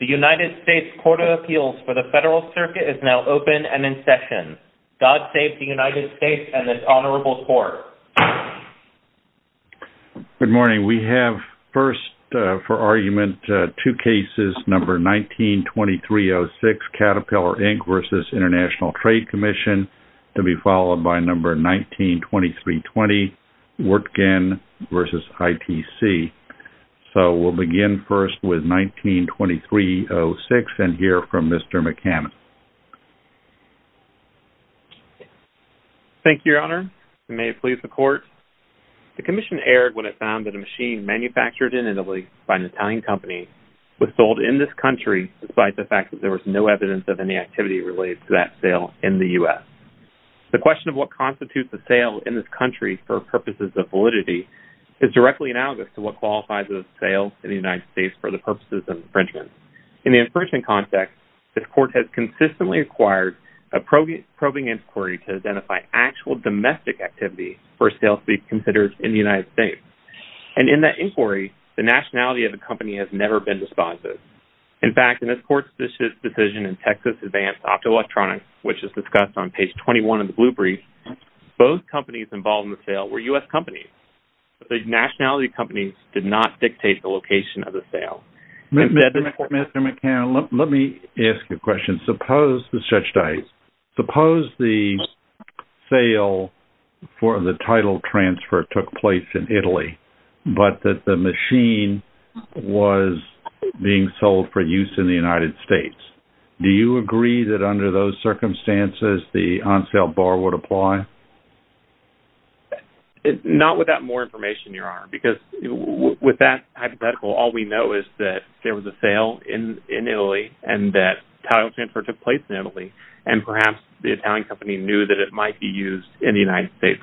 The United States Court of Appeals for the Federal Circuit is now open and in session. God save the United States and this honorable court. Good morning. We have first for argument two cases, number 19-2306, Caterpillar Inc. v. International Trade Commission, to be followed by number 19-2320, Wirtgen v. ITC. So we'll begin first with 19-2306 and hear from Mr. McCammon. Thank you, Your Honor. May it please the court. The commission erred when it found that a machine manufactured in Italy by an Italian company was sold in this country despite the fact that there was no evidence of any activity related to that sale in the U.S. The question of what constitutes a sale in this country for purposes of validity is directly analogous to what qualifies as a sale in the United States for the purposes of infringement. In the infringement context, this court has consistently acquired a probing inquiry to identify actual domestic activity for a sale to be considered in the United States. And in that inquiry, the nationality of the company has never been despised. In fact, in this court's decision in Texas Advanced Optoelectronics, which is discussed on page 21 of the blue brief, both companies involved in the sale were U.S. companies. The nationality of the companies did not dictate the location of the sale. Mr. McCammon, let me ask you a question. Suppose the sale for the title transfer took place in Italy, but that the machine was being sold for use in the United States. Do you agree that under those circumstances, the on-sale bar would apply? Not with that more information, Your Honor. Because with that hypothetical, all we know is that there was a sale in Italy and that title transfer took place in Italy. And perhaps the Italian company knew that it might be used in the United States.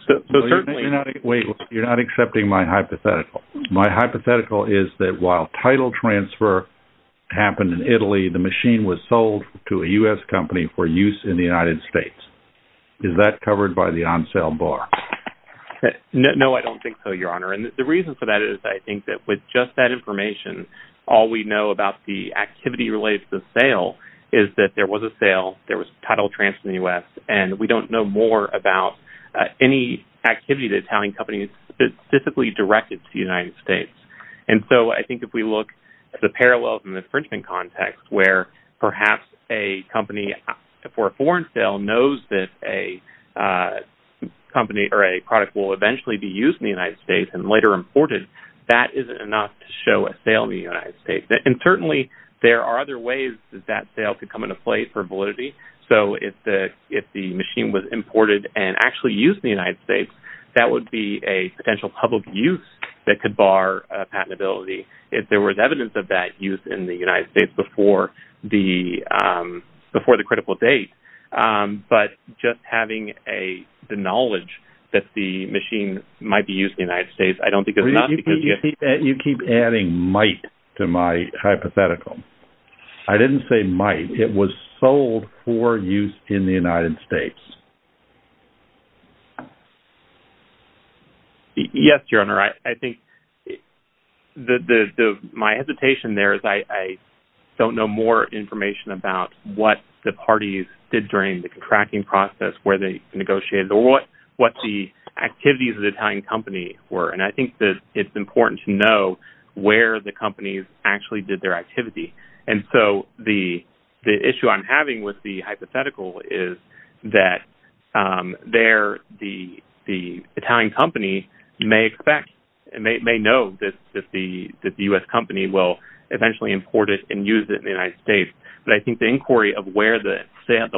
Wait, you're not accepting my hypothetical. My hypothetical is that while title transfer happened in Italy, the machine was sold to a U.S. company for use in the United States. Is that covered by the on-sale bar? No, I don't think so, Your Honor. And the reason for that is I think that with just that information, all we know about the activity related to the sale is that there was a sale. There was a title transfer in the U.S. And we don't know more about any activity the Italian company specifically directed to the United States. And so I think if we look at the parallels in the infringement context where perhaps a company for a foreign sale knows that a company or a product will eventually be used in the United States and later imported, that isn't enough to show a sale in the United States. And certainly there are other ways that that sale could come into play for validity. So if the machine was imported and actually used in the United States, that would be a potential public use that could bar patentability. If there was evidence of that use in the United States before the critical date, but just having the knowledge that the machine might be used in the United States, I don't think it's enough because you have to- You keep adding might to my hypothetical. I didn't say might. It was sold for use in the United States. Yes, Your Honor. I think my hesitation there is I don't know more information about what the parties did during the contracting process, where they negotiated, or what the activities of the Italian company were. And I think that it's important to know where the companies actually did their activity. And so the issue I'm having with the hypothetical is that the Italian company may expect and may know that the U.S. company will eventually import it and use it in the United States. But I think the inquiry of where the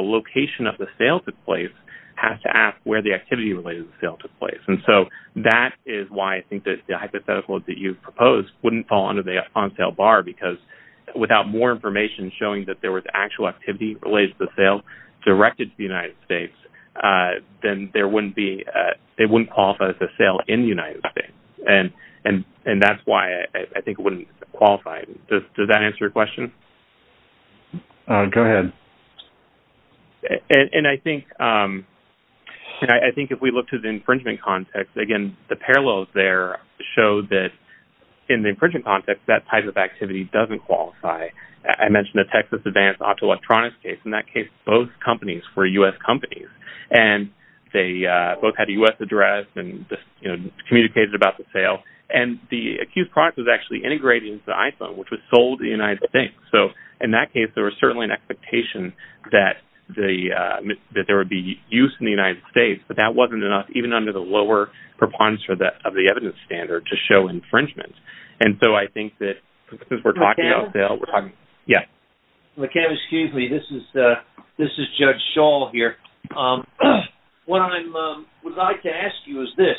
location of the sale took place has to ask where the activity related to the sale took place. And so that is why I think that the hypothetical that you proposed wouldn't fall under the on-sale bar because without more information showing that there was actual activity related to the sale directed to the United States, then it wouldn't qualify as a sale in the United States. And that's why I think it wouldn't qualify. Does that answer your question? Go ahead. And I think if we look to the infringement context, again, the parallels there show that in the infringement context, that type of activity doesn't qualify. I mentioned the Texas Advanced Optoelectronics case. In that case, both companies were U.S. companies. And they both had a U.S. address and communicated about the sale. And the accused product was actually integrated into the iPhone, which was sold to the United States. So in that case, there was certainly an expectation that there would be use in the United States. But that wasn't enough, even under the lower preponderance of the evidence standard, to show infringement. And so I think that since we're talking about the sale, we're talking – McCabe? Yes. McCabe, excuse me. This is Judge Shaw here. What I would like to ask you is this.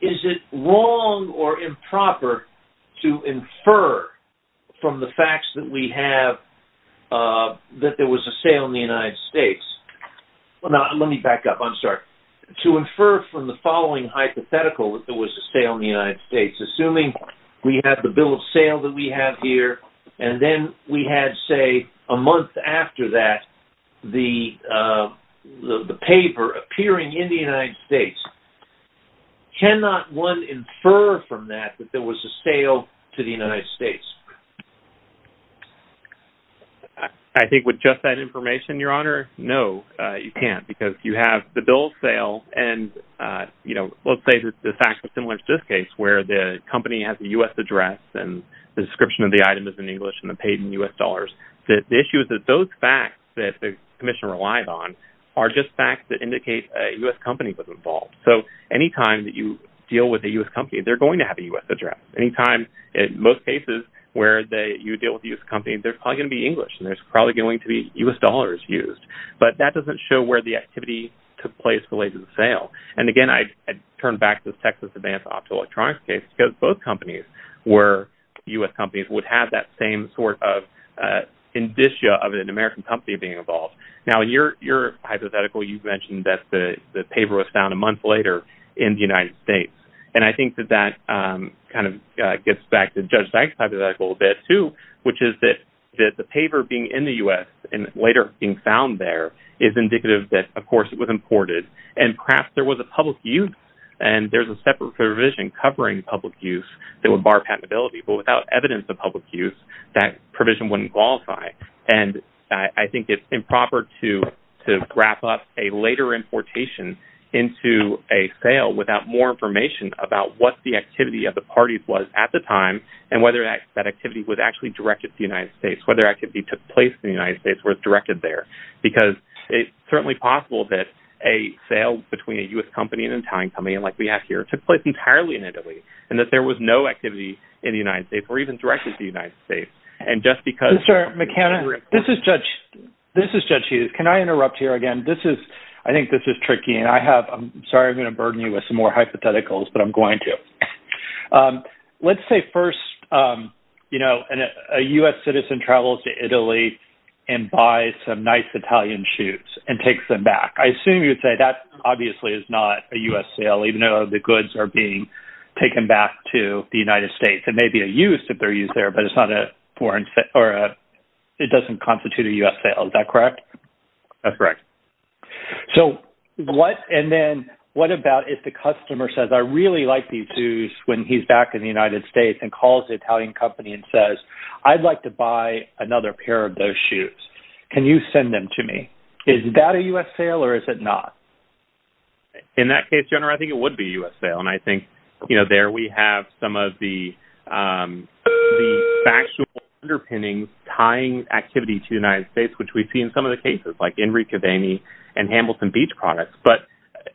Is it wrong or improper to infer from the facts that we have that there was a sale in the United States – well, now, let me back up. I'm sorry. To infer from the following hypothetical that there was a sale in the United States, assuming we have the bill of sale that we have here, and then we had, say, a month after that, the paper appearing in the United States, cannot one infer from that that there was a sale to the United States? I think with just that information, Your Honor, no, you can't. Because you have the bill of sale and, you know, let's say the facts are similar to this case, where the company has a U.S. address and the description of the item is in English and they're paid in U.S. dollars. The issue is that those facts that the commission relies on are just facts that indicate a U.S. company was involved. So any time that you deal with a U.S. company, they're going to have a U.S. address. Any time, in most cases, where you deal with a U.S. company, there's probably going to be English and there's probably going to be U.S. dollars used. But that doesn't show where the activity took place related to the sale. And, again, I turn back to the Texas Advance Optoelectronics case, because both companies were U.S. companies, would have that same sort of indicia of an American company being involved. Now, in your hypothetical, you've mentioned that the paper was found a month later in the United States. And I think that that kind of gets back to Judge Dyke's hypothetical a bit, too, which is that the paper being in the U.S. and later being found there is indicative that, of course, it was imported and perhaps there was a public use. And there's a separate provision covering public use that would bar patentability. But without evidence of public use, that provision wouldn't qualify. And I think it's improper to wrap up a later importation into a sale without more information about what the activity of the parties was at the time and whether that activity was actually directed to the United States, whether activity took place in the United States was directed there. Because it's certainly possible that a sale between a U.S. company and an Italian company, like we have here, took place entirely in Italy and that there was no activity in the United States or even directed to the United States. And just because… Mr. McKenna, this is Judge Hughes. Can I interrupt here again? I think this is tricky, and I'm sorry I'm going to burden you with some more hypotheticals, but I'm going to. Let's say first, you know, a U.S. citizen travels to Italy and buys some nice Italian shoes and takes them back. I assume you would say that obviously is not a U.S. sale, even though the goods are being taken back to the United States. It may be a use if they're used there, but it's not a foreign sale or it doesn't constitute a U.S. sale. Is that correct? That's correct. And then what about if the customer says, I really like these shoes when he's back in the United States and calls the Italian company and says, I'd like to buy another pair of those shoes. Can you send them to me? Is that a U.S. sale or is it not? In that case, General, I think it would be a U.S. sale. And I think, you know, there we have some of the factual underpinnings tying activity to the United States, which we see in some of the cases, like Enrique Vaini and Hamilton Beach products. But,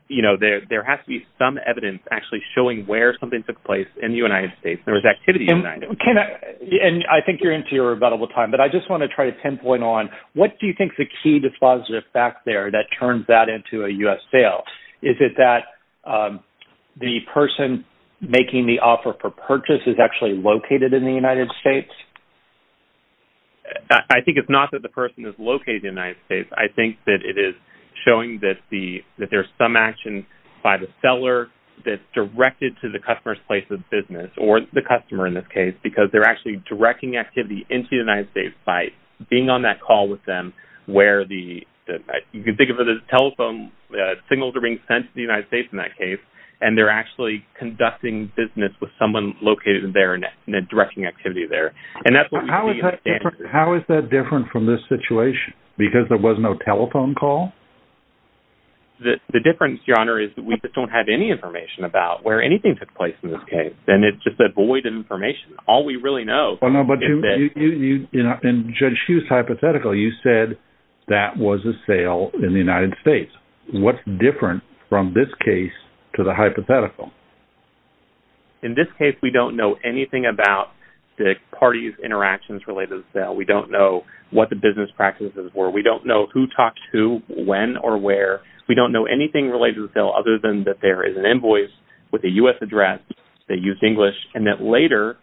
you know, there has to be some evidence actually showing where something took place in the United States. There was activity in the United States. And I think you're into your rebuttable time, but I just want to try to pinpoint on what do you think the key dispositive fact there that turns that into a U.S. sale? Is it that the person making the offer for purchase is actually located in the United States? I think it's not that the person is located in the United States. I think that it is showing that there's some action by the seller that's directed to the customer's place of business or the customer in this case because they're actually directing activity into the United States by being on that call with them where the – you can think of it as telephone signals are being sent to the United States in that case, and they're actually conducting business with someone located there and directing activity there. How is that different from this situation because there was no telephone call? The difference, Your Honor, is that we just don't have any information about where anything took place in this case. And it's just a void of information. All we really know is that – Well, no, but you – in Judge Hughes' hypothetical, you said that was a sale in the United States. What's different from this case to the hypothetical? In this case, we don't know anything about the parties' interactions related to the sale. We don't know what the business practices were. We don't know who talked to who, when, or where. We don't know anything related to the sale other than that there is an invoice with a U.S. address that used English and that later,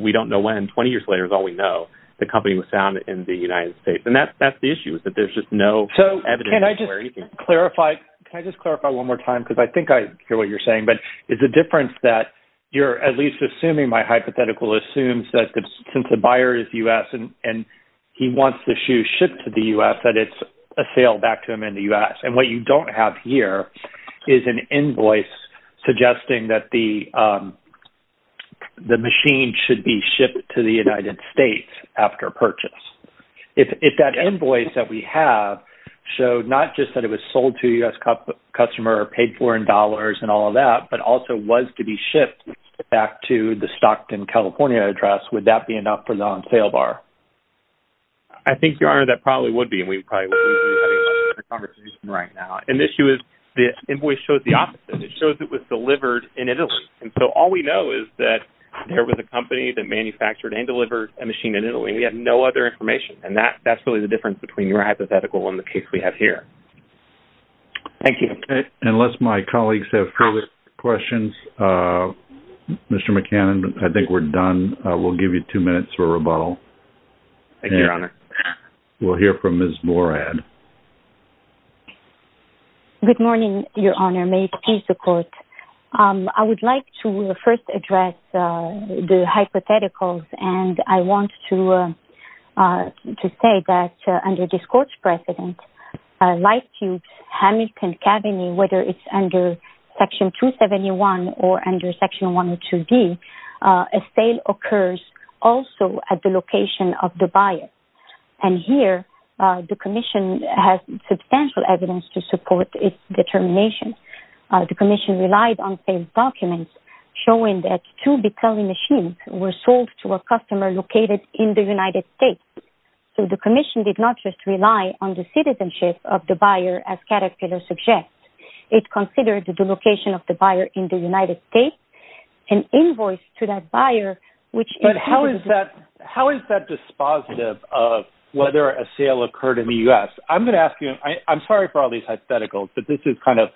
we don't know when, 20 years later is all we know, the company was found in the United States. And that's the issue is that there's just no evidence where anything – So can I just clarify – can I just clarify one more time because I think I hear what you're saying? But is the difference that you're at least assuming my hypothetical assumes that since the buyer is U.S. and he wants the shoe shipped to the U.S., that it's a sale back to him in the U.S.? And what you don't have here is an invoice suggesting that the machine should be shipped to the United States after purchase. If that invoice that we have showed not just that it was sold to a U.S. customer or paid for in dollars and all of that, but also was to be shipped back to the Stockton, California address, would that be enough for the on-sale bar? I think, Your Honor, that probably would be. And we probably wouldn't be having a conversation right now. And the issue is the invoice shows the opposite. It shows it was delivered in Italy. And so all we know is that there was a company that manufactured and delivered a machine in Italy. We have no other information. And that's really the difference between your hypothetical and the case we have here. Thank you. Unless my colleagues have further questions, Mr. McCannon, I think we're done. We'll give you two minutes for rebuttal. Thank you, Your Honor. We'll hear from Ms. Borad. Good morning, Your Honor. May it please the Court. I would like to first address the hypotheticals. And I want to say that under this Court's precedent, Life Tubes, Hamilton, Cabinet, whether it's under Section 271 or under Section 102B, a sale occurs also at the location of the buyer. And here, the Commission has substantial evidence to support its determination. The Commission relied on failed documents showing that two Bicelli machines were sold to a customer located in the United States. So the Commission did not just rely on the citizenship of the buyer, as Caterpillar suggests. It considered the location of the buyer in the United States, an invoice to that buyer, which included… But how is that dispositive of whether a sale occurred in the U.S.? I'm going to ask you. I'm sorry for all these hypotheticals, but this is kind of,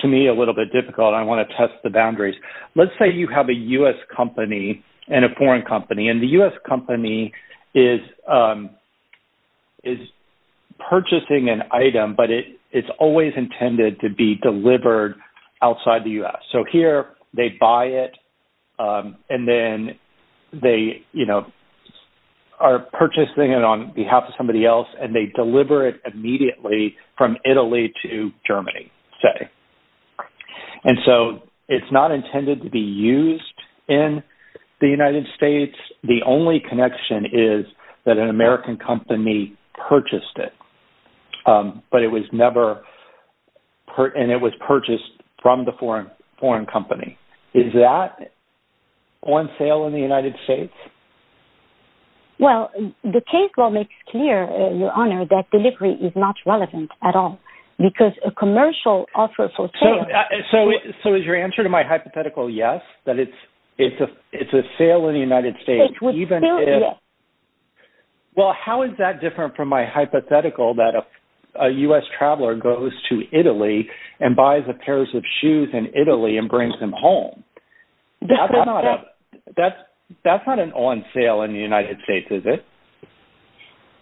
to me, a little bit difficult. I want to test the boundaries. Let's say you have a U.S. company and a foreign company. And the U.S. company is purchasing an item, but it's always intended to be delivered outside the U.S. So here, they buy it, and then they, you know, are purchasing it on behalf of somebody else. And they deliver it immediately from Italy to Germany, say. And so it's not intended to be used in the United States. The only connection is that an American company purchased it. But it was never – and it was purchased from the foreign company. Is that on sale in the United States? Well, the case law makes clear, Your Honor, that delivery is not relevant at all. Because a commercial offer for sale… So is your answer to my hypothetical yes, that it's a sale in the United States, even if… It would still be yes. Well, how is that different from my hypothetical that a U.S. traveler goes to Italy and buys a pair of shoes in Italy and brings them home? That's not an on sale in the United States, is it?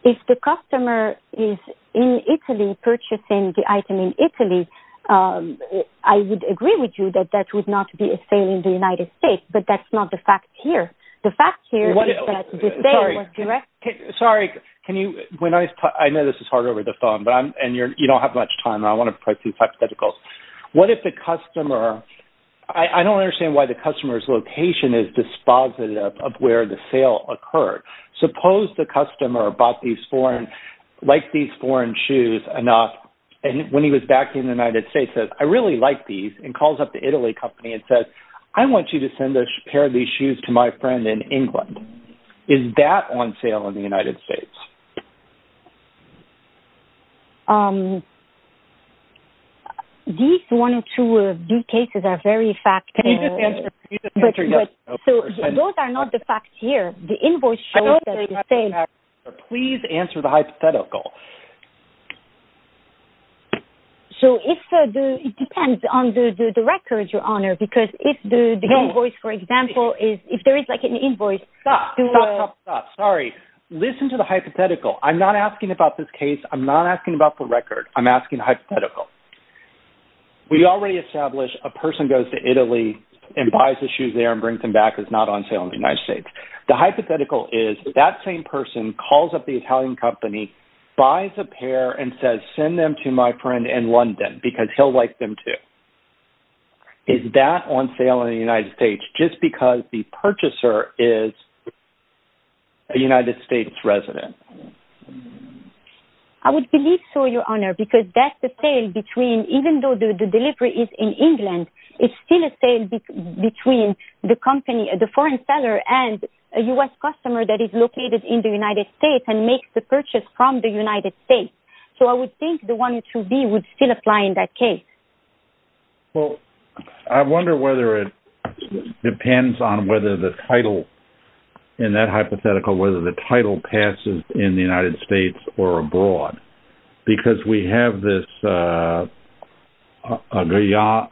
If the customer is in Italy purchasing the item in Italy, I would agree with you that that would not be a sale in the United States. But that's not the fact here. The fact here is that the sale was directed… Sorry, can you – when I – I know this is hard over the phone, but I'm – and you don't have much time. I want to play two hypotheticals. What if the customer – I don't understand why the customer's location is dispositive of where the sale occurred. Suppose the customer bought these foreign – liked these foreign shoes enough. And when he was back in the United States, says, I really like these, and calls up the Italy company and says, I want you to send a pair of these shoes to my friend in England. Is that on sale in the United States? These one or two cases are very factual. Can you just answer yes or no first? Those are not the facts here. The invoice shows that it's a sale. Please answer the hypothetical. So if the – it depends on the records, Your Honor, because if the invoice, for example, is – if there is like an invoice… Stop, stop, stop, stop. Sorry. Listen to the hypothetical. I'm not asking about this case. I'm not asking about the record. I'm asking the hypothetical. We already established a person goes to Italy and buys the shoes there and brings them back is not on sale in the United States. The hypothetical is that same person calls up the Italian company, buys a pair, and says, send them to my friend in London because he'll like them too. Is that on sale in the United States just because the purchaser is a United States resident? I would believe so, Your Honor, because that's the sale between – even though the delivery is in England, it's still a sale between the company – the foreign seller and a U.S. customer that is located in the United States and makes the purchase from the United States. So I would think the one through B would still apply in that case. Well, I wonder whether it depends on whether the title in that hypothetical, whether the title passes in the United States or abroad because we have this Aguayo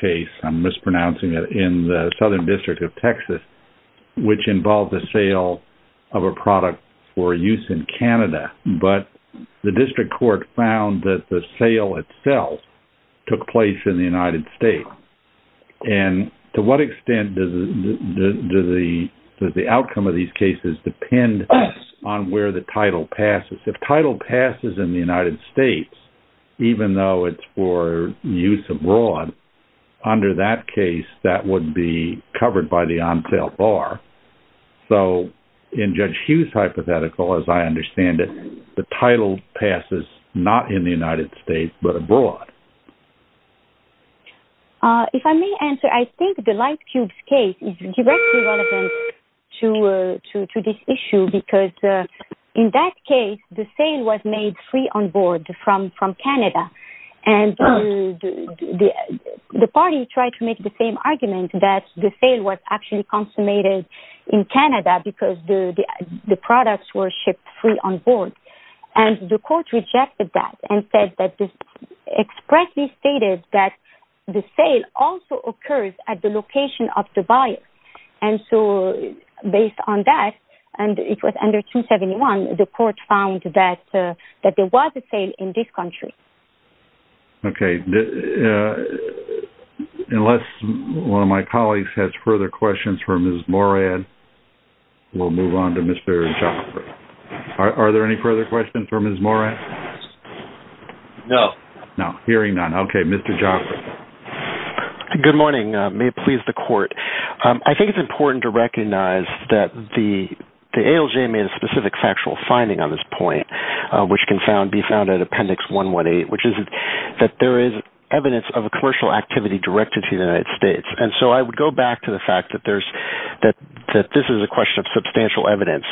case – I'm mispronouncing it – in the Southern District of Texas, which involved the sale of a product for use in Canada, but the district court found that the sale itself took place in the United States. And to what extent does the outcome of these cases depend on where the title passes? If title passes in the United States, even though it's for use abroad, under that case, that would be covered by the on-sale bar. So in Judge Hughes' hypothetical, as I understand it, the title passes not in the United States but abroad. If I may answer, I think the Lightcube case is directly relevant to this issue because in that case, the sale was made free on board from Canada. And the party tried to make the same argument that the sale was actually consummated in Canada because the products were shipped free on board. And the court rejected that and expressly stated that the sale also occurs at the location of the buyer. And so based on that, and it was under 271, the court found that there was a sale in this country. Okay. Unless one of my colleagues has further questions for Ms. Morad, we'll move on to Ms. Barry-Chopra. Are there any further questions for Ms. Morad? No. No. Hearing none. Okay. Mr. Jopra. Good morning. May it please the court. I think it's important to recognize that the ALJ made a specific factual finding on this point, which can be found at Appendix 118, which is that there is evidence of a commercial activity directed to the United States. And so I would go back to the fact that this is a question of substantial evidence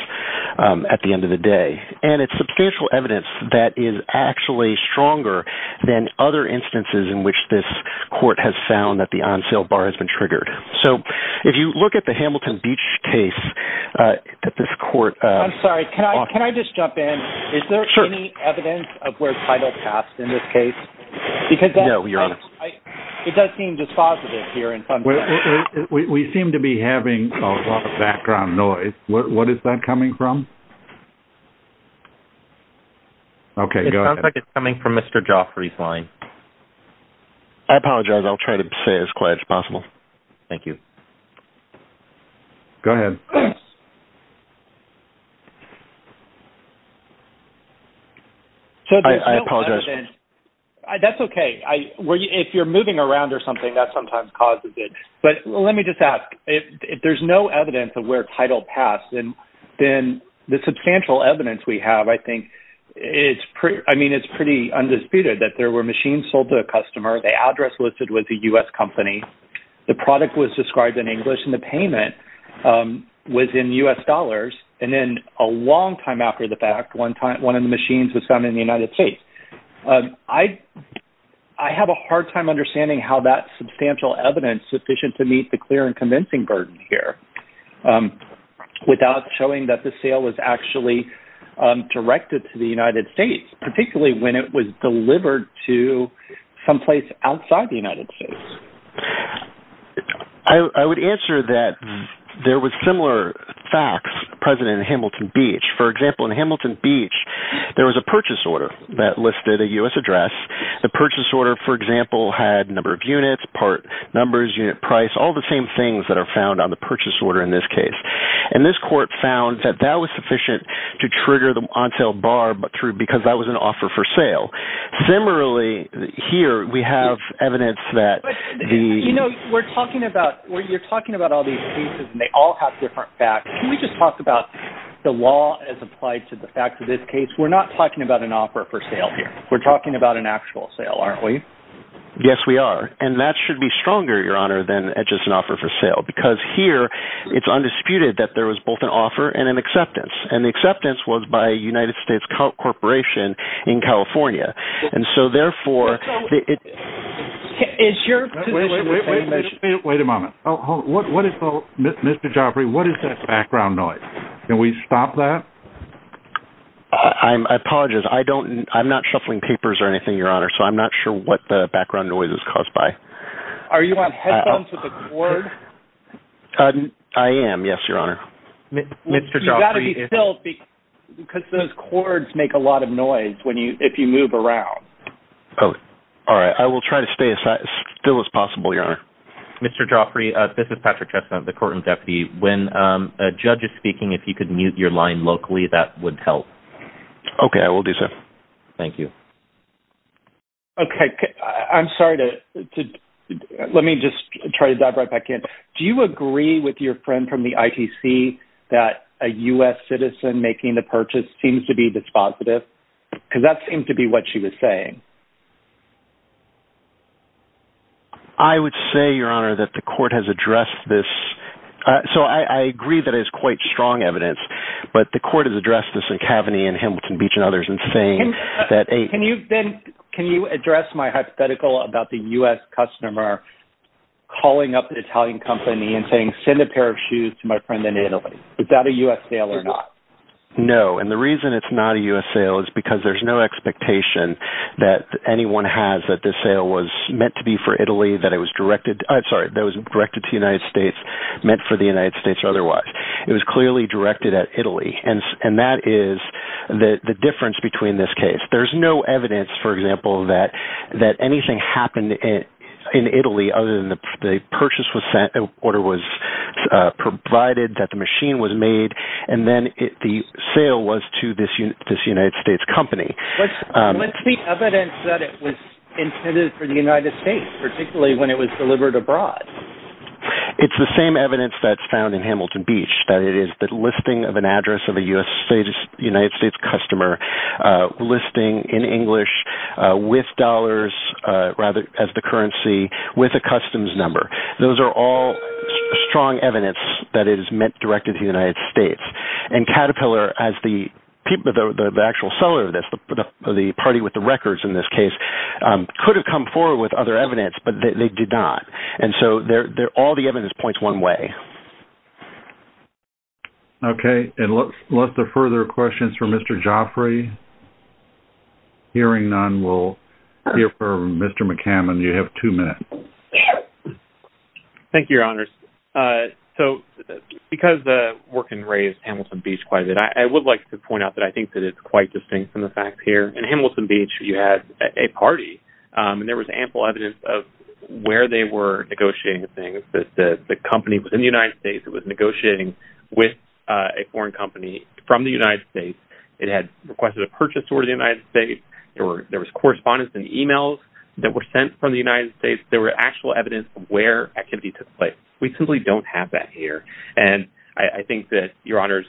at the end of the day. And it's substantial evidence that is actually stronger than other instances in which this court has found that the on-sale bar has been triggered. So if you look at the Hamilton Beach case that this court – I'm sorry. Can I just jump in? Sure. Is there any evidence of where title passed in this case? No, Your Honor. It does seem dispositive here in some sense. We seem to be having a lot of background noise. What is that coming from? Okay. Go ahead. It sounds like it's coming from Mr. Jopra's line. I apologize. I'll try to stay as quiet as possible. Thank you. Go ahead. I apologize. That's okay. If you're moving around or something, that sometimes causes it. But let me just ask. If there's no evidence of where title passed, then the substantial evidence we have, I think, is pretty undisputed, that there were machines sold to a customer. The address listed was a U.S. company. The product was described in English, and the payment was in U.S. dollars. And then a long time after the fact, one of the machines was found in the United States. I have a hard time understanding how that substantial evidence is sufficient to meet the clear and convincing burden here without showing that the sale was actually directed to the United States, particularly when it was delivered to someplace outside the United States. I would answer that there was similar facts present in Hamilton Beach. For example, in Hamilton Beach, there was a purchase order that listed a U.S. address. The purchase order, for example, had number of units, part numbers, unit price, all the same things that are found on the purchase order in this case. And this court found that that was sufficient to trigger the on-sale bar because that was an offer for sale. Similarly, here, we have evidence that the... But, you know, we're talking about, you're talking about all these cases, and they all have different facts. Can we just talk about the law as applied to the facts of this case? We're not talking about an offer for sale here. We're talking about an actual sale, aren't we? Yes, we are. And that should be stronger, Your Honor, than just an offer for sale. Because here, it's undisputed that there was both an offer and an acceptance. And the acceptance was by a United States corporation in California. And so, therefore, it... Is your position the same as... Wait a moment. What is the... Mr. Joffrey, what is that background noise? Can we stop that? I apologize. I don't... I'm not shuffling papers or anything, Your Honor, so I'm not sure what the background noise is caused by. Are you on headphones with a cord? I am, yes, Your Honor. You've got to be still because those cords make a lot of noise if you move around. Oh. All right. I will try to stay as still as possible, Your Honor. Mr. Joffrey, this is Patrick Chestnut, the courtroom deputy. When a judge is speaking, if you could mute your line locally, that would help. Okay. I will do so. Thank you. Okay. I'm sorry to... Let me just try to dive right back in. Do you agree with your friend from the ITC that a U.S. citizen making the purchase seems to be dispositive? Because that seemed to be what she was saying. I would say, Your Honor, that the court has addressed this. So I agree that it is quite strong evidence, but the court has addressed this in Kaveny and Hamilton Beach and others in saying that a... and saying, send a pair of shoes to my friend in Italy. Is that a U.S. sale or not? No, and the reason it's not a U.S. sale is because there's no expectation that anyone has that this sale was meant to be for Italy, that it was directed... I'm sorry, that it was directed to the United States, meant for the United States otherwise. It was clearly directed at Italy, and that is the difference between this case. There's no evidence, for example, that anything happened in Italy other than the purchase was sent, an order was provided, that the machine was made, and then the sale was to this United States company. What's the evidence that it was intended for the United States, particularly when it was delivered abroad? It's the same evidence that's found in Hamilton Beach, that it is the listing of an address of a United States customer, listing in English, with dollars as the currency, with a customs number. Those are all strong evidence that it is meant directed to the United States, and Caterpillar, as the actual seller of this, the party with the records in this case, could have come forward with other evidence, but they did not, and so all the evidence points one way. Okay, and lots of further questions for Mr. Joffrey. Hearing none, we'll hear from Mr. McCammon. You have two minutes. Thank you, Your Honors. So, because the work in Ray's Hamilton Beach quite a bit, I would like to point out that I think that it's quite distinct from the facts here. In Hamilton Beach, you had a party, and there was ample evidence of where they were negotiating things, that the company was in the United States, it was negotiating with a foreign company from the United States, it had requested a purchase order to the United States, there was correspondence in emails that were sent from the United States, there was actual evidence of where activity took place. We simply don't have that here, and I think that, Your Honors,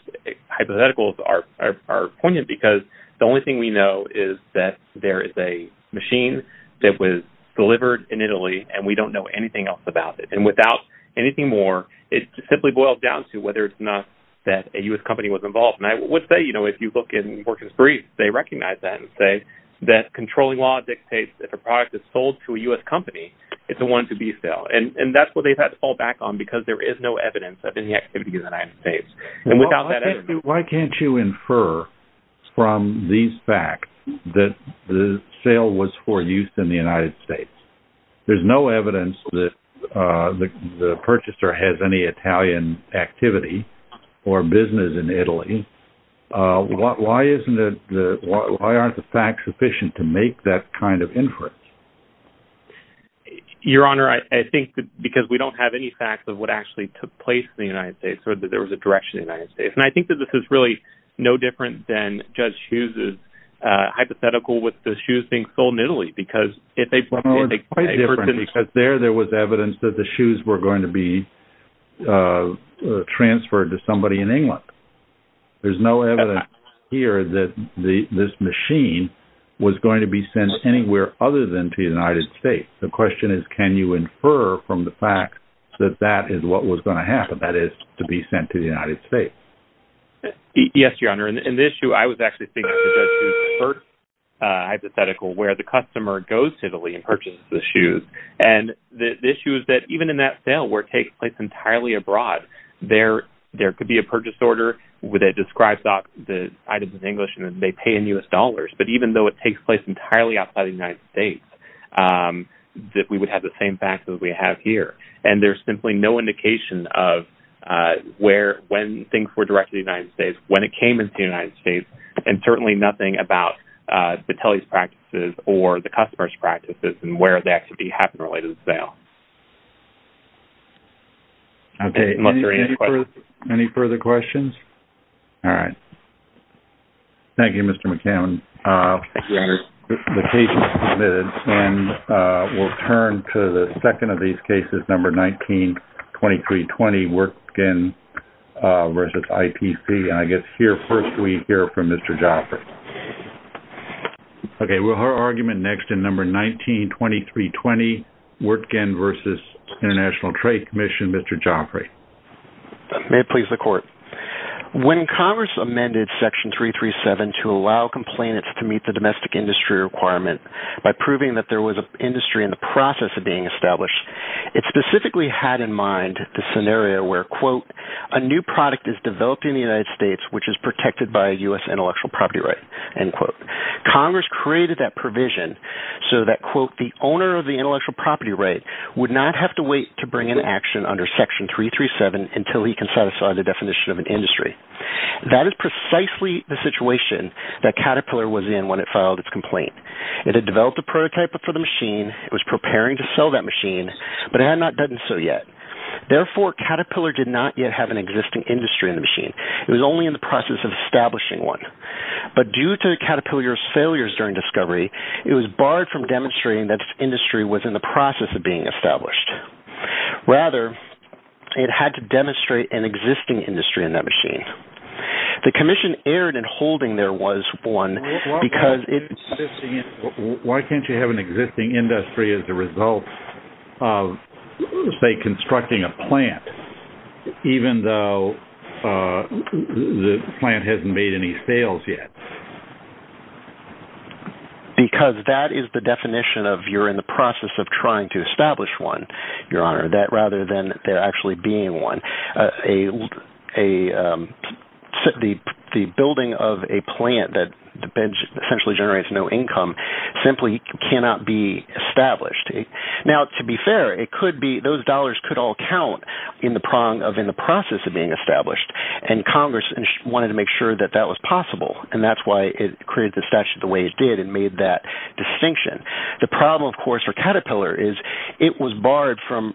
hypotheticals are poignant because the only thing we know is that there is a machine that was delivered in Italy, and we don't know anything else about it. And without anything more, it simply boils down to whether it's not that a U.S. company was involved. And I would say, you know, if you look in Morgan's brief, they recognize that and say that controlling law dictates that if a product is sold to a U.S. company, it's the one to be sold. And that's what they've had to fall back on because there is no evidence of any activity in the United States. Why can't you infer from these facts that the sale was for use in the United States? There's no evidence that the purchaser has any Italian activity or business in Italy. Why aren't the facts sufficient to make that kind of inference? Your Honor, I think that because we don't have any facts of what actually took place in the United States or that there was a direction in the United States. And I think that this is really no different than Judge Hughes's hypothetical with the shoes being sold in Italy because if they brought in a person… Well, it's quite different because there, there was evidence that the shoes were going to be transferred to somebody in England. There's no evidence here that this machine was going to be sent anywhere other than to the United States. The question is, can you infer from the fact that that is what was going to happen, that is, to be sent to the United States? Yes, Your Honor. In this issue, I was actually thinking of Judge Hughes's first hypothetical where the customer goes to Italy and purchases the shoes. And the issue is that even in that sale where it takes place entirely abroad, there could be a purchase order where they describe the items in English and they pay in U.S. dollars. But even though it takes place entirely outside of the United States, that we would have the same facts that we have here. And there's simply no indication of where, when things were directed to the United States, when it came into the United States, and certainly nothing about the telly's practices or the customer's practices and where that could be happening related to the sale. Okay. Any further questions? All right. Thank you, Mr. McCammon. Thank you, Your Honor. The case is submitted, and we'll turn to the second of these cases, number 19-2320, work skin versus IPC. And I guess here first we hear from Mr. Joffrey. Okay. We'll hear argument next in number 19-2320, work skin versus International Trade Commission. Mr. Joffrey. May it please the Court. When Congress amended section 337 to allow complainants to meet the domestic industry requirement by proving that there was an industry in the process of being established, it specifically had in mind the scenario where, quote, a new product is developed in the United States which is protected by a U.S. intellectual property right, end quote. Congress created that provision so that, quote, the owner of the intellectual property right would not have to wait to bring an action under section 337 until he can satisfy the definition of an industry. That is precisely the situation that Caterpillar was in when it filed its complaint. It had developed a prototype for the machine. It was preparing to sell that machine, but it had not done so yet. Therefore, Caterpillar did not yet have an existing industry in the machine. It was only in the process of establishing one. But due to Caterpillar's failures during discovery, it was barred from demonstrating that its industry was in the process of being established. Rather, it had to demonstrate an existing industry in that machine. The commission erred in holding there was one because it… Why can't you have an existing industry as a result of, say, constructing a plant even though the plant hasn't made any sales yet? Because that is the definition of you're in the process of trying to establish one, Your Honor, rather than there actually being one. The building of a plant that essentially generates no income simply cannot be established. Now, to be fair, those dollars could all count in the process of being established. Congress wanted to make sure that that was possible, and that's why it created the statute the way it did and made that distinction. The problem, of course, for Caterpillar is it was barred from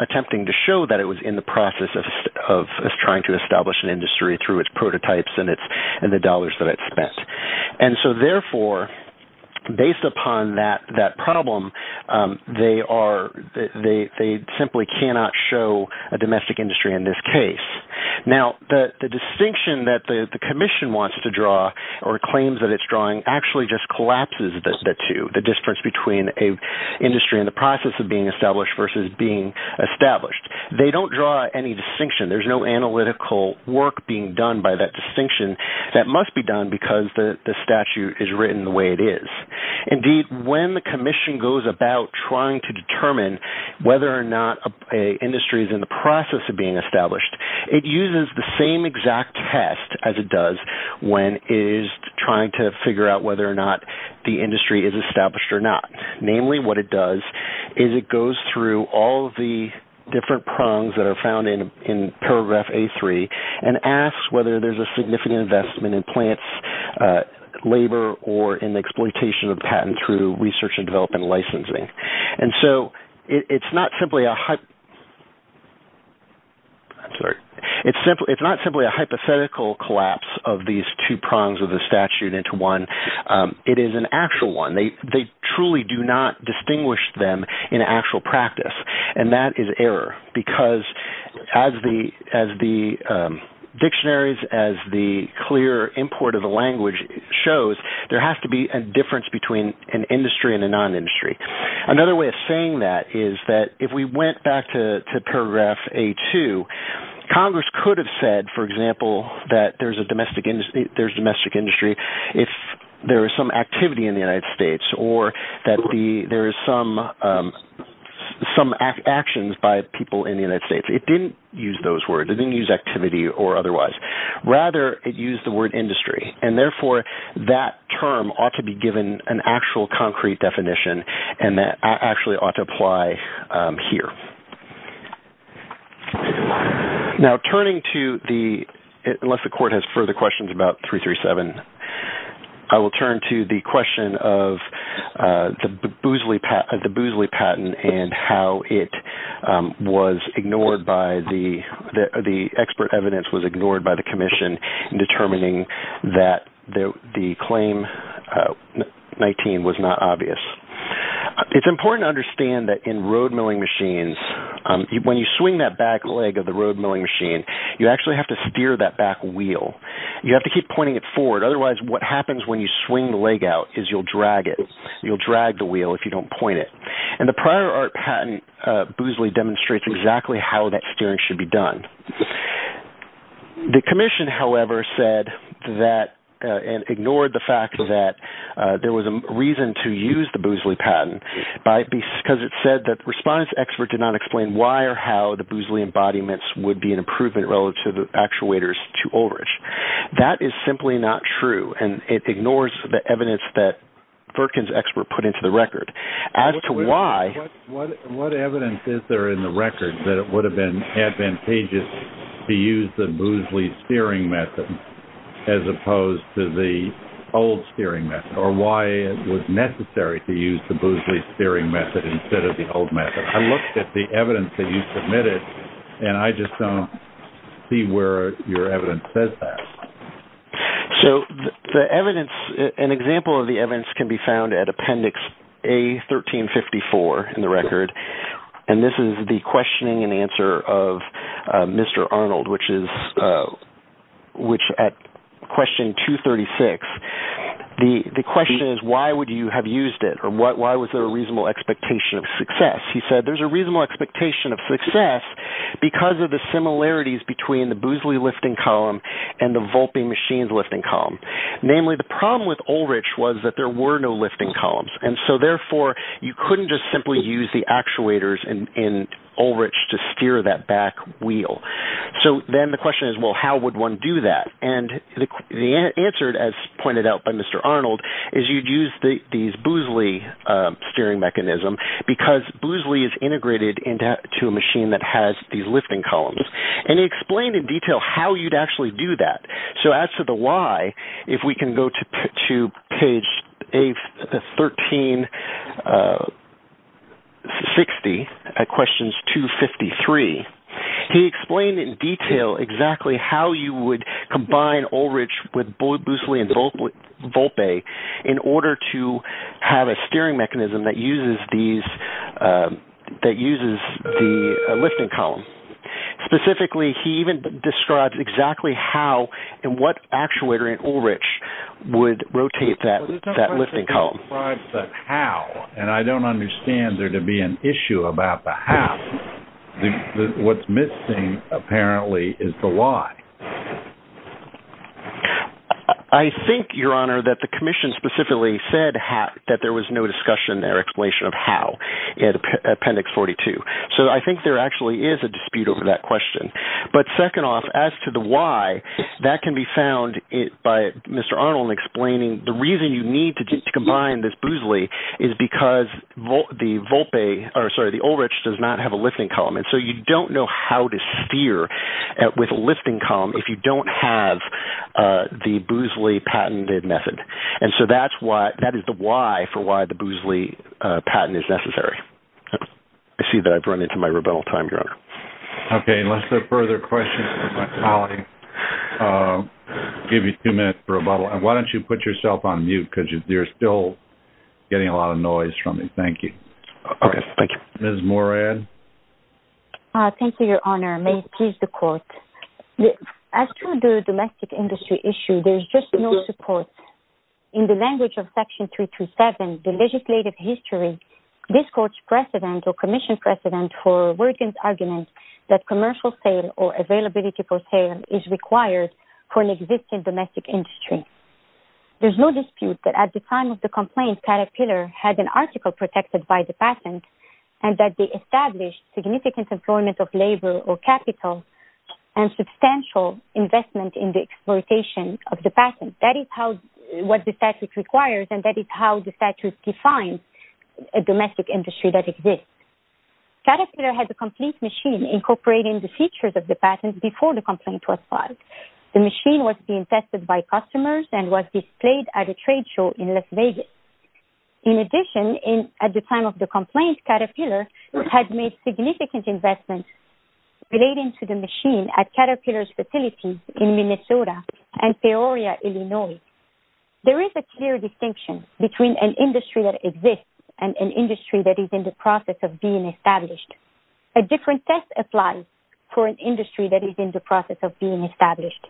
attempting to show that it was in the process of trying to establish an industry through its prototypes and the dollars that it spent. Therefore, based upon that problem, they simply cannot show a domestic industry in this case. Now, the distinction that the commission wants to draw or claims that it's drawing actually just collapses the two, the difference between an industry in the process of being established versus being established. They don't draw any distinction. There's no analytical work being done by that distinction. That must be done because the statute is written the way it is. Indeed, when the commission goes about trying to determine whether or not an industry is in the process of being established, it uses the same exact test as it does when it is trying to figure out whether or not the industry is established or not. Namely, what it does is it goes through all of the different prongs that are found in paragraph A3 and asks whether there's a significant investment in plants, labor, or in the exploitation of patent through research and development licensing. And so it's not simply a hypothetical collapse of these two prongs of the statute into one. It is an actual one. They truly do not distinguish them in actual practice, and that is error because as the dictionaries, as the clear import of the language shows, there has to be a difference between an industry and a non-industry. Another way of saying that is that if we went back to paragraph A2, Congress could have said, for example, that there's domestic industry if there is some activity in the United States or that there is some actions by people in the United States. It didn't use those words. It didn't use activity or otherwise. Rather, it used the word industry. And therefore, that term ought to be given an actual concrete definition, and that actually ought to apply here. Now, turning to the – unless the court has further questions about 337, I will turn to the question of the Boozley patent and how it was ignored by the – the expert evidence was ignored by the commission in determining that the claim 19 was not obvious. It's important to understand that in road milling machines, when you swing that back leg of the road milling machine, you actually have to steer that back wheel. You have to keep pointing it forward. Otherwise, what happens when you swing the leg out is you'll drag it. You'll drag the wheel if you don't point it. And the prior art patent, Boozley demonstrates exactly how that steering should be done. The commission, however, said that – and ignored the fact that there was a reason to use the Boozley patent because it said that the response expert did not explain why or how the Boozley embodiments would be an improvement relative to actuators to overage. That is simply not true, and it ignores the evidence that Perkins' expert put into the record. What evidence is there in the record that it would have been advantageous to use the Boozley steering method as opposed to the old steering method or why it was necessary to use the Boozley steering method instead of the old method? I looked at the evidence that you submitted, and I just don't see where your evidence says that. An example of the evidence can be found at Appendix A1354 in the record. And this is the questioning and answer of Mr. Arnold, which at question 236, the question is why would you have used it or why was there a reasonable expectation of success? Namely, the problem with Ulrich was that there were no lifting columns, and so therefore you couldn't just simply use the actuators in Ulrich to steer that back wheel. So then the question is, well, how would one do that? And the answer, as pointed out by Mr. Arnold, is you'd use the Boozley steering mechanism because Boozley is integrated into a machine that has these lifting columns. And he explained in detail how you'd actually do that. So as to the why, if we can go to page 1360 at questions 253, he explained in detail exactly how you would combine Ulrich with Boozley and Volpe in order to have a steering mechanism that uses the lifting column. Specifically, he even described exactly how and what actuator in Ulrich would rotate that lifting column. But the question doesn't describe the how, and I don't understand there to be an issue about the how. What's missing, apparently, is the why. I think, Your Honor, that the Commission specifically said that there was no discussion in their explanation of how in Appendix 42. So I think there actually is a dispute over that question. But second off, as to the why, that can be found by Mr. Arnold explaining the reason you need to combine this Boozley is because the Ulrich does not have a lifting column. And so you don't know how to steer with a lifting column if you don't have the Boozley patented method. And so that is the why for why the Boozley patent is necessary. I see that I've run into my rebuttal time, Your Honor. Okay, unless there are further questions, I'll give you two minutes for rebuttal. Why don't you put yourself on mute because you're still getting a lot of noise from me. Thank you. Okay, thank you. Ms. Morad? Thank you, Your Honor. May it please the Court. As to the domestic industry issue, there is just no support. In the language of Section 327, the legislative history, this Court's precedent or Commission's precedent for Worgen's argument that commercial sale or availability for sale is required for an existing domestic industry. There's no dispute that at the time of the complaint, Caterpillar had an article protected by the patent and that they established significant employment of labor or capital and substantial investment in the exploitation of the patent. That is what the statute requires and that is how the statute defines a domestic industry that exists. Caterpillar has a complete machine incorporating the features of the patent before the complaint was filed. The machine was being tested by customers and was displayed at a trade show in Las Vegas. In addition, at the time of the complaint, Caterpillar had made significant investments relating to the machine at Caterpillar's facility in Minnesota and Peoria, Illinois. There is a clear distinction between an industry that exists and an industry that is in the process of being established. A different test applies for an industry that is in the process of being established.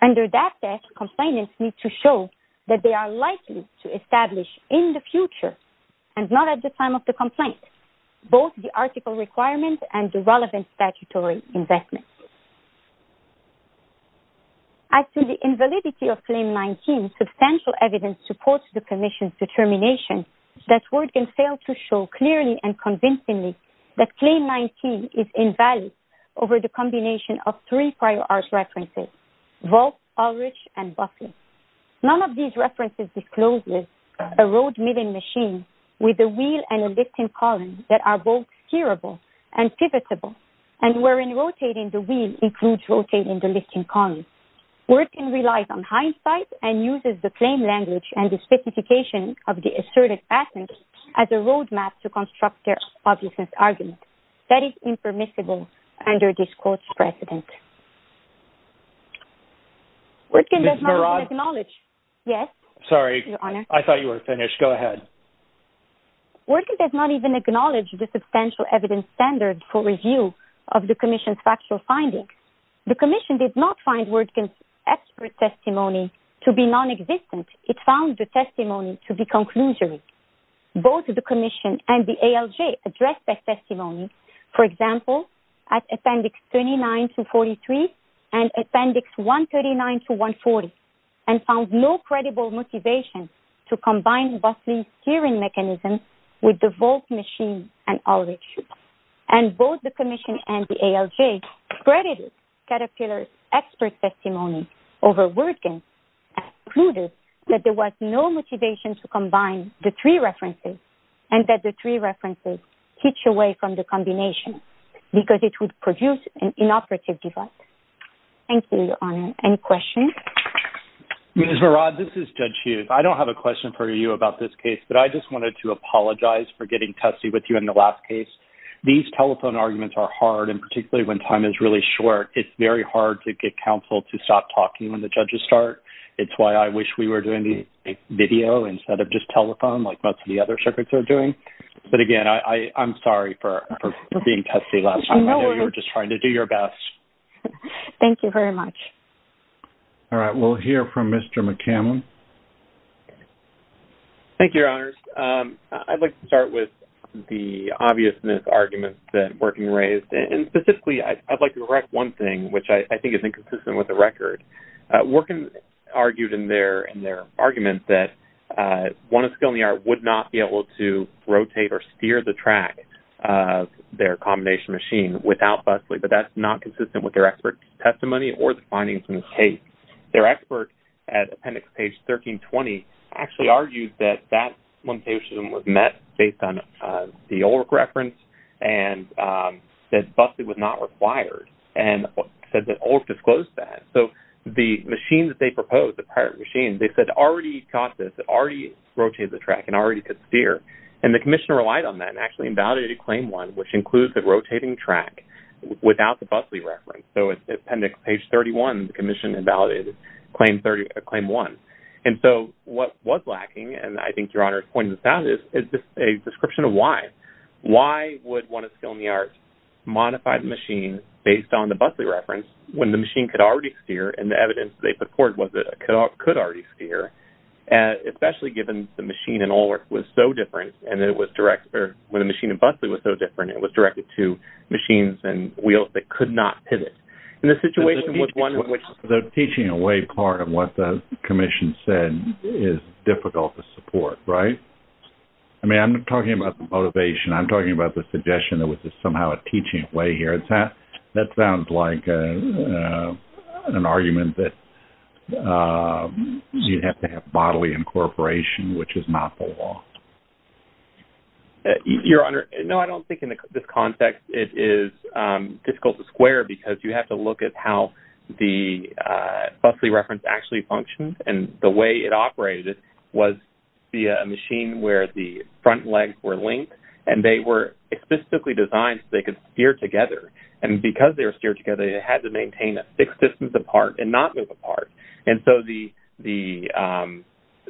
Under that test, complainants need to show that they are likely to establish in the future and not at the time of the complaint both the article requirement and the relevant statutory investment. As to the invalidity of Claim 19, substantial evidence supports the Commission's determination that Word can fail to show clearly and convincingly that Claim 19 is invalid over the combination of three prior art references, Vault, Ulrich, and Buffet. None of these references discloses a road milling machine with a wheel and a lifting column that are both steerable and pivotable, and wherein rotating the wheel includes rotating the lifting column. Word can rely on hindsight and uses the claim language and the specification of the asserted patent as a roadmap to construct their obviousness argument. That is impermissible under this court's precedent. Word can does not even acknowledge the substantial evidence standard for review of the Commission's factual findings. The Commission did not find Word can's expert testimony to be non-existent. It found the testimony to be conclusory. Both the Commission and the ALJ addressed that testimony, for example, at Appendix 39-43 and Appendix 139-140, and found no credible motivation to combine Buffet's steering mechanism with the Vault machine and Ulrich. And both the Commission and the ALJ credited Caterpillar's expert testimony over Word can's and concluded that there was no motivation to combine the three references and that the three references teach away from the combination because it would produce an inoperative device. Thank you, Your Honor. Any questions? Ms. Barad, this is Judge Hughes. I don't have a question for you about this case, but I just wanted to apologize for getting testy with you in the last case. These telephone arguments are hard, and particularly when time is really short, it's very hard to get counsel to stop talking when the judges start. It's why I wish we were doing the video instead of just telephone like most of the other circuits are doing. But again, I'm sorry for being testy last time. I know you were just trying to do your best. Thank you very much. All right. We'll hear from Mr. McCammon. Thank you, Your Honors. I'd like to start with the obviousness arguments that Worken raised. And specifically, I'd like to correct one thing, which I think is inconsistent with the record. Worken argued in their argument that one of skill in the art would not be able to rotate or steer the track of their combination machine without Bussley, but that's not consistent with their expert testimony or the findings in this case. Their expert at appendix page 1320 actually argued that that limitation was met based on the Ulrich reference and that Bussley was not required, and said that Ulrich disclosed that. So the machine that they proposed, the pirate machine, they said already got this. It already rotated the track and already could steer. And the commissioner relied on that and actually invalidated claim one, which includes the rotating track without the Bussley reference. So it's appendix page 31, the commission invalidated claim one. And so what was lacking, and I think Your Honors pointed this out, is a description of why. Why would one of skill in the art modify the machine based on the Bussley reference when the machine could already steer and the evidence they put forward was it could already steer, especially given the machine in Ulrich was so different and it was directed or when the machine in Bussley was so different, it was directed to machines and wheels that could not pivot. The teaching away part of what the commission said is difficult to support, right? I mean, I'm not talking about the motivation. I'm talking about the suggestion that was just somehow a teaching away here. That sounds like an argument that you'd have to have bodily incorporation, which is not the law. Your Honor, no, I don't think in this context it is difficult to square because you have to look at how the Bussley reference actually functions and the way it operated was via a machine where the front legs were linked and they were specifically designed so they could steer together. And because they were steered together, they had to maintain a fixed distance apart and not move apart. And so the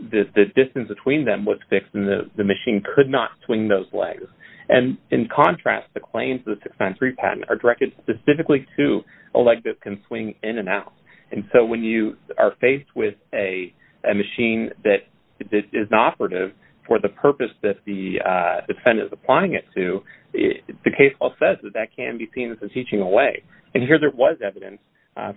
distance between them was fixed and the machine could not swing those legs. And in contrast, the claims of the 693 patent are directed specifically to a leg that can swing in and out. And so when you are faced with a machine that is not operative for the purpose that the defendant is applying it to, the case law says that that can be seen as a teaching away. And here there was evidence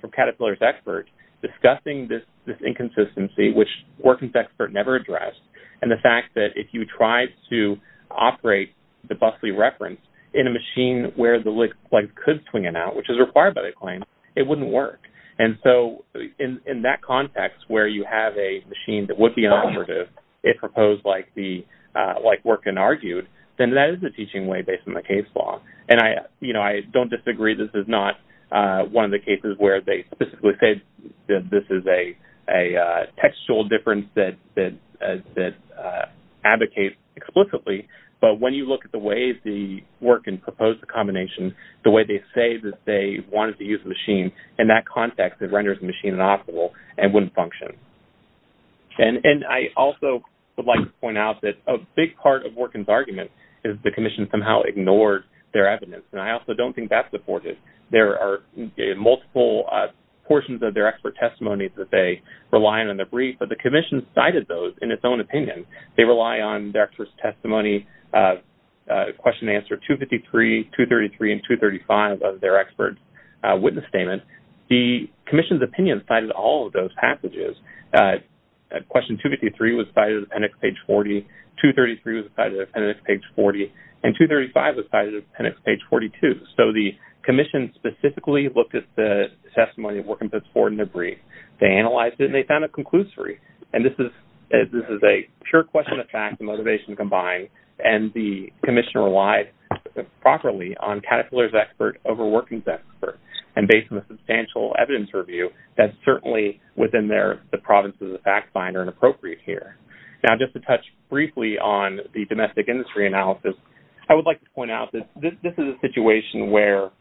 from Caterpillar's experts discussing this inconsistency, which Working's expert never addressed, and the fact that if you tried to operate the Bussley reference in a machine where the legs could swing in and out, which is required by the claim, it wouldn't work. And so in that context where you have a machine that would be operative if proposed like Working argued, then that is a teaching away based on the case law. And I don't disagree. This is not one of the cases where they specifically say that this is a textual difference that advocates explicitly. But when you look at the way the Working proposed the combination, the way they say that they wanted to use the machine, in that context it renders the machine inoperable and wouldn't function. And I also would like to point out that a big part of Working's argument is the commission somehow ignored their evidence, and I also don't think that's supported. There are multiple portions of their expert testimony that they rely on in the brief, but the commission cited those in its own opinion. They rely on their expert's testimony, question and answer 253, 233, and 235 of their expert's witness statement. The commission's opinion cited all of those passages. Question 253 was cited at appendix page 40. 233 was cited at appendix page 40. And 235 was cited at appendix page 42. So the commission specifically looked at the testimony of Working puts forward in their brief. They analyzed it, and they found a conclusory. And this is a pure question of fact and motivation combined, and the commission relied properly on Caterpillar's expert over Working's expert. And based on the substantial evidence review, that's certainly within the province of the fact line or inappropriate here. Now just to touch briefly on the domestic industry analysis, I would like to point out that this is a situation where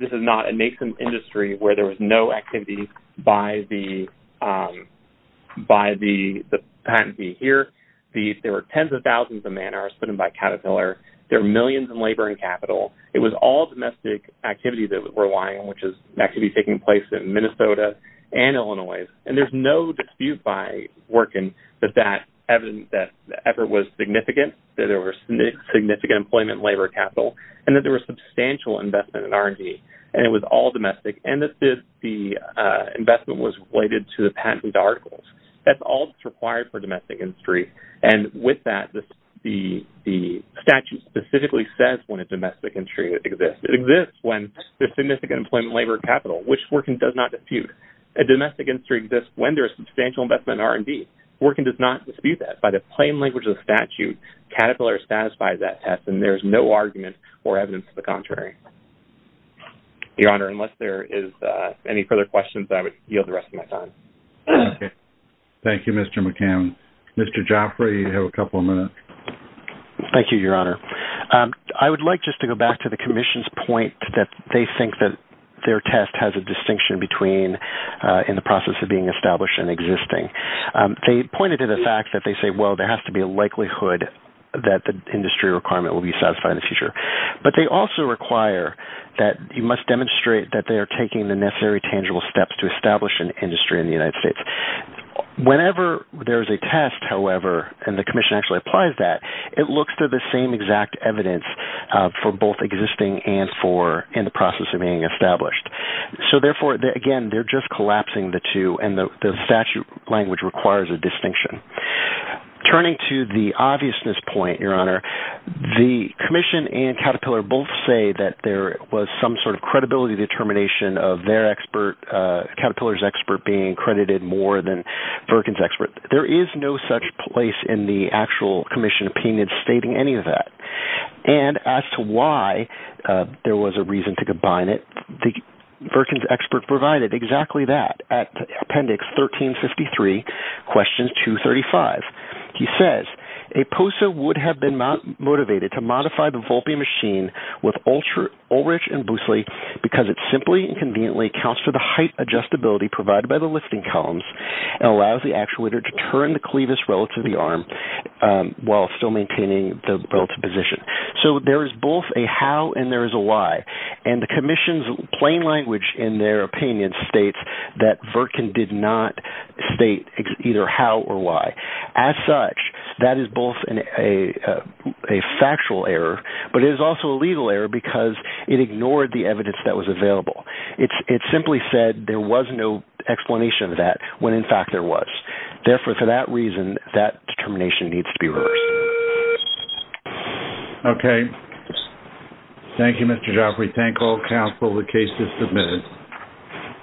this is not a nascent industry where there was no activity by the patentee here. There were tens of thousands of man hours put in by Caterpillar. There were millions in labor and capital. It was all domestic activity that we're relying on, which is activity taking place in Minnesota and Illinois. And there's no dispute by Working that that effort was significant, that there was significant employment and labor capital, and that there was substantial investment in R&D. And it was all domestic, and that the investment was related to the patentee's articles. That's all that's required for domestic industry. And with that, the statute specifically says when a domestic industry exists. It exists when there's significant employment, labor, and capital, which Working does not dispute. A domestic industry exists when there is substantial investment in R&D. Working does not dispute that. By the plain language of the statute, Caterpillar satisfies that test, and there's no argument or evidence to the contrary. Your Honor, unless there is any further questions, I would yield the rest of my time. Okay. Thank you, Mr. McCann. Mr. Jaffray, you have a couple of minutes. Thank you, Your Honor. I would like just to go back to the Commission's point that they think that their test has a distinction between in the process of being established and existing. They pointed to the fact that they say, well, there has to be a likelihood that the industry requirement will be satisfied in the future. But they also require that you must demonstrate that they are taking the necessary tangible steps to establish an industry in the United States. Whenever there is a test, however, and the Commission actually applies that, it looks to the same exact evidence for both existing and in the process of being established. So, therefore, again, they're just collapsing the two, and the statute language requires a distinction. Turning to the obviousness point, Your Honor, the Commission and Caterpillar both say that there was some sort of credibility determination of their expert, Caterpillar's expert, being credited more than Virkin's expert. There is no such place in the actual Commission opinion stating any of that. And as to why there was a reason to combine it, the Virkin's expert provided exactly that at appendix 1353, questions 235. He says, A POSA would have been motivated to modify the Volpe machine with Ulrich and Boosley because it simply and conveniently accounts for the height adjustability provided by the lifting columns and allows the actuator to turn the clevis relative to the arm while still maintaining the relative position. So there is both a how and there is a why. And the Commission's plain language in their opinion states that Virkin did not state either how or why. As such, that is both a factual error, but it is also a legal error because it ignored the evidence that was available. It simply said there was no explanation of that when, in fact, there was. Therefore, for that reason, that determination needs to be reversed. Okay. Thank you, Mr. Joffrey. Thank all counsel. The case is submitted.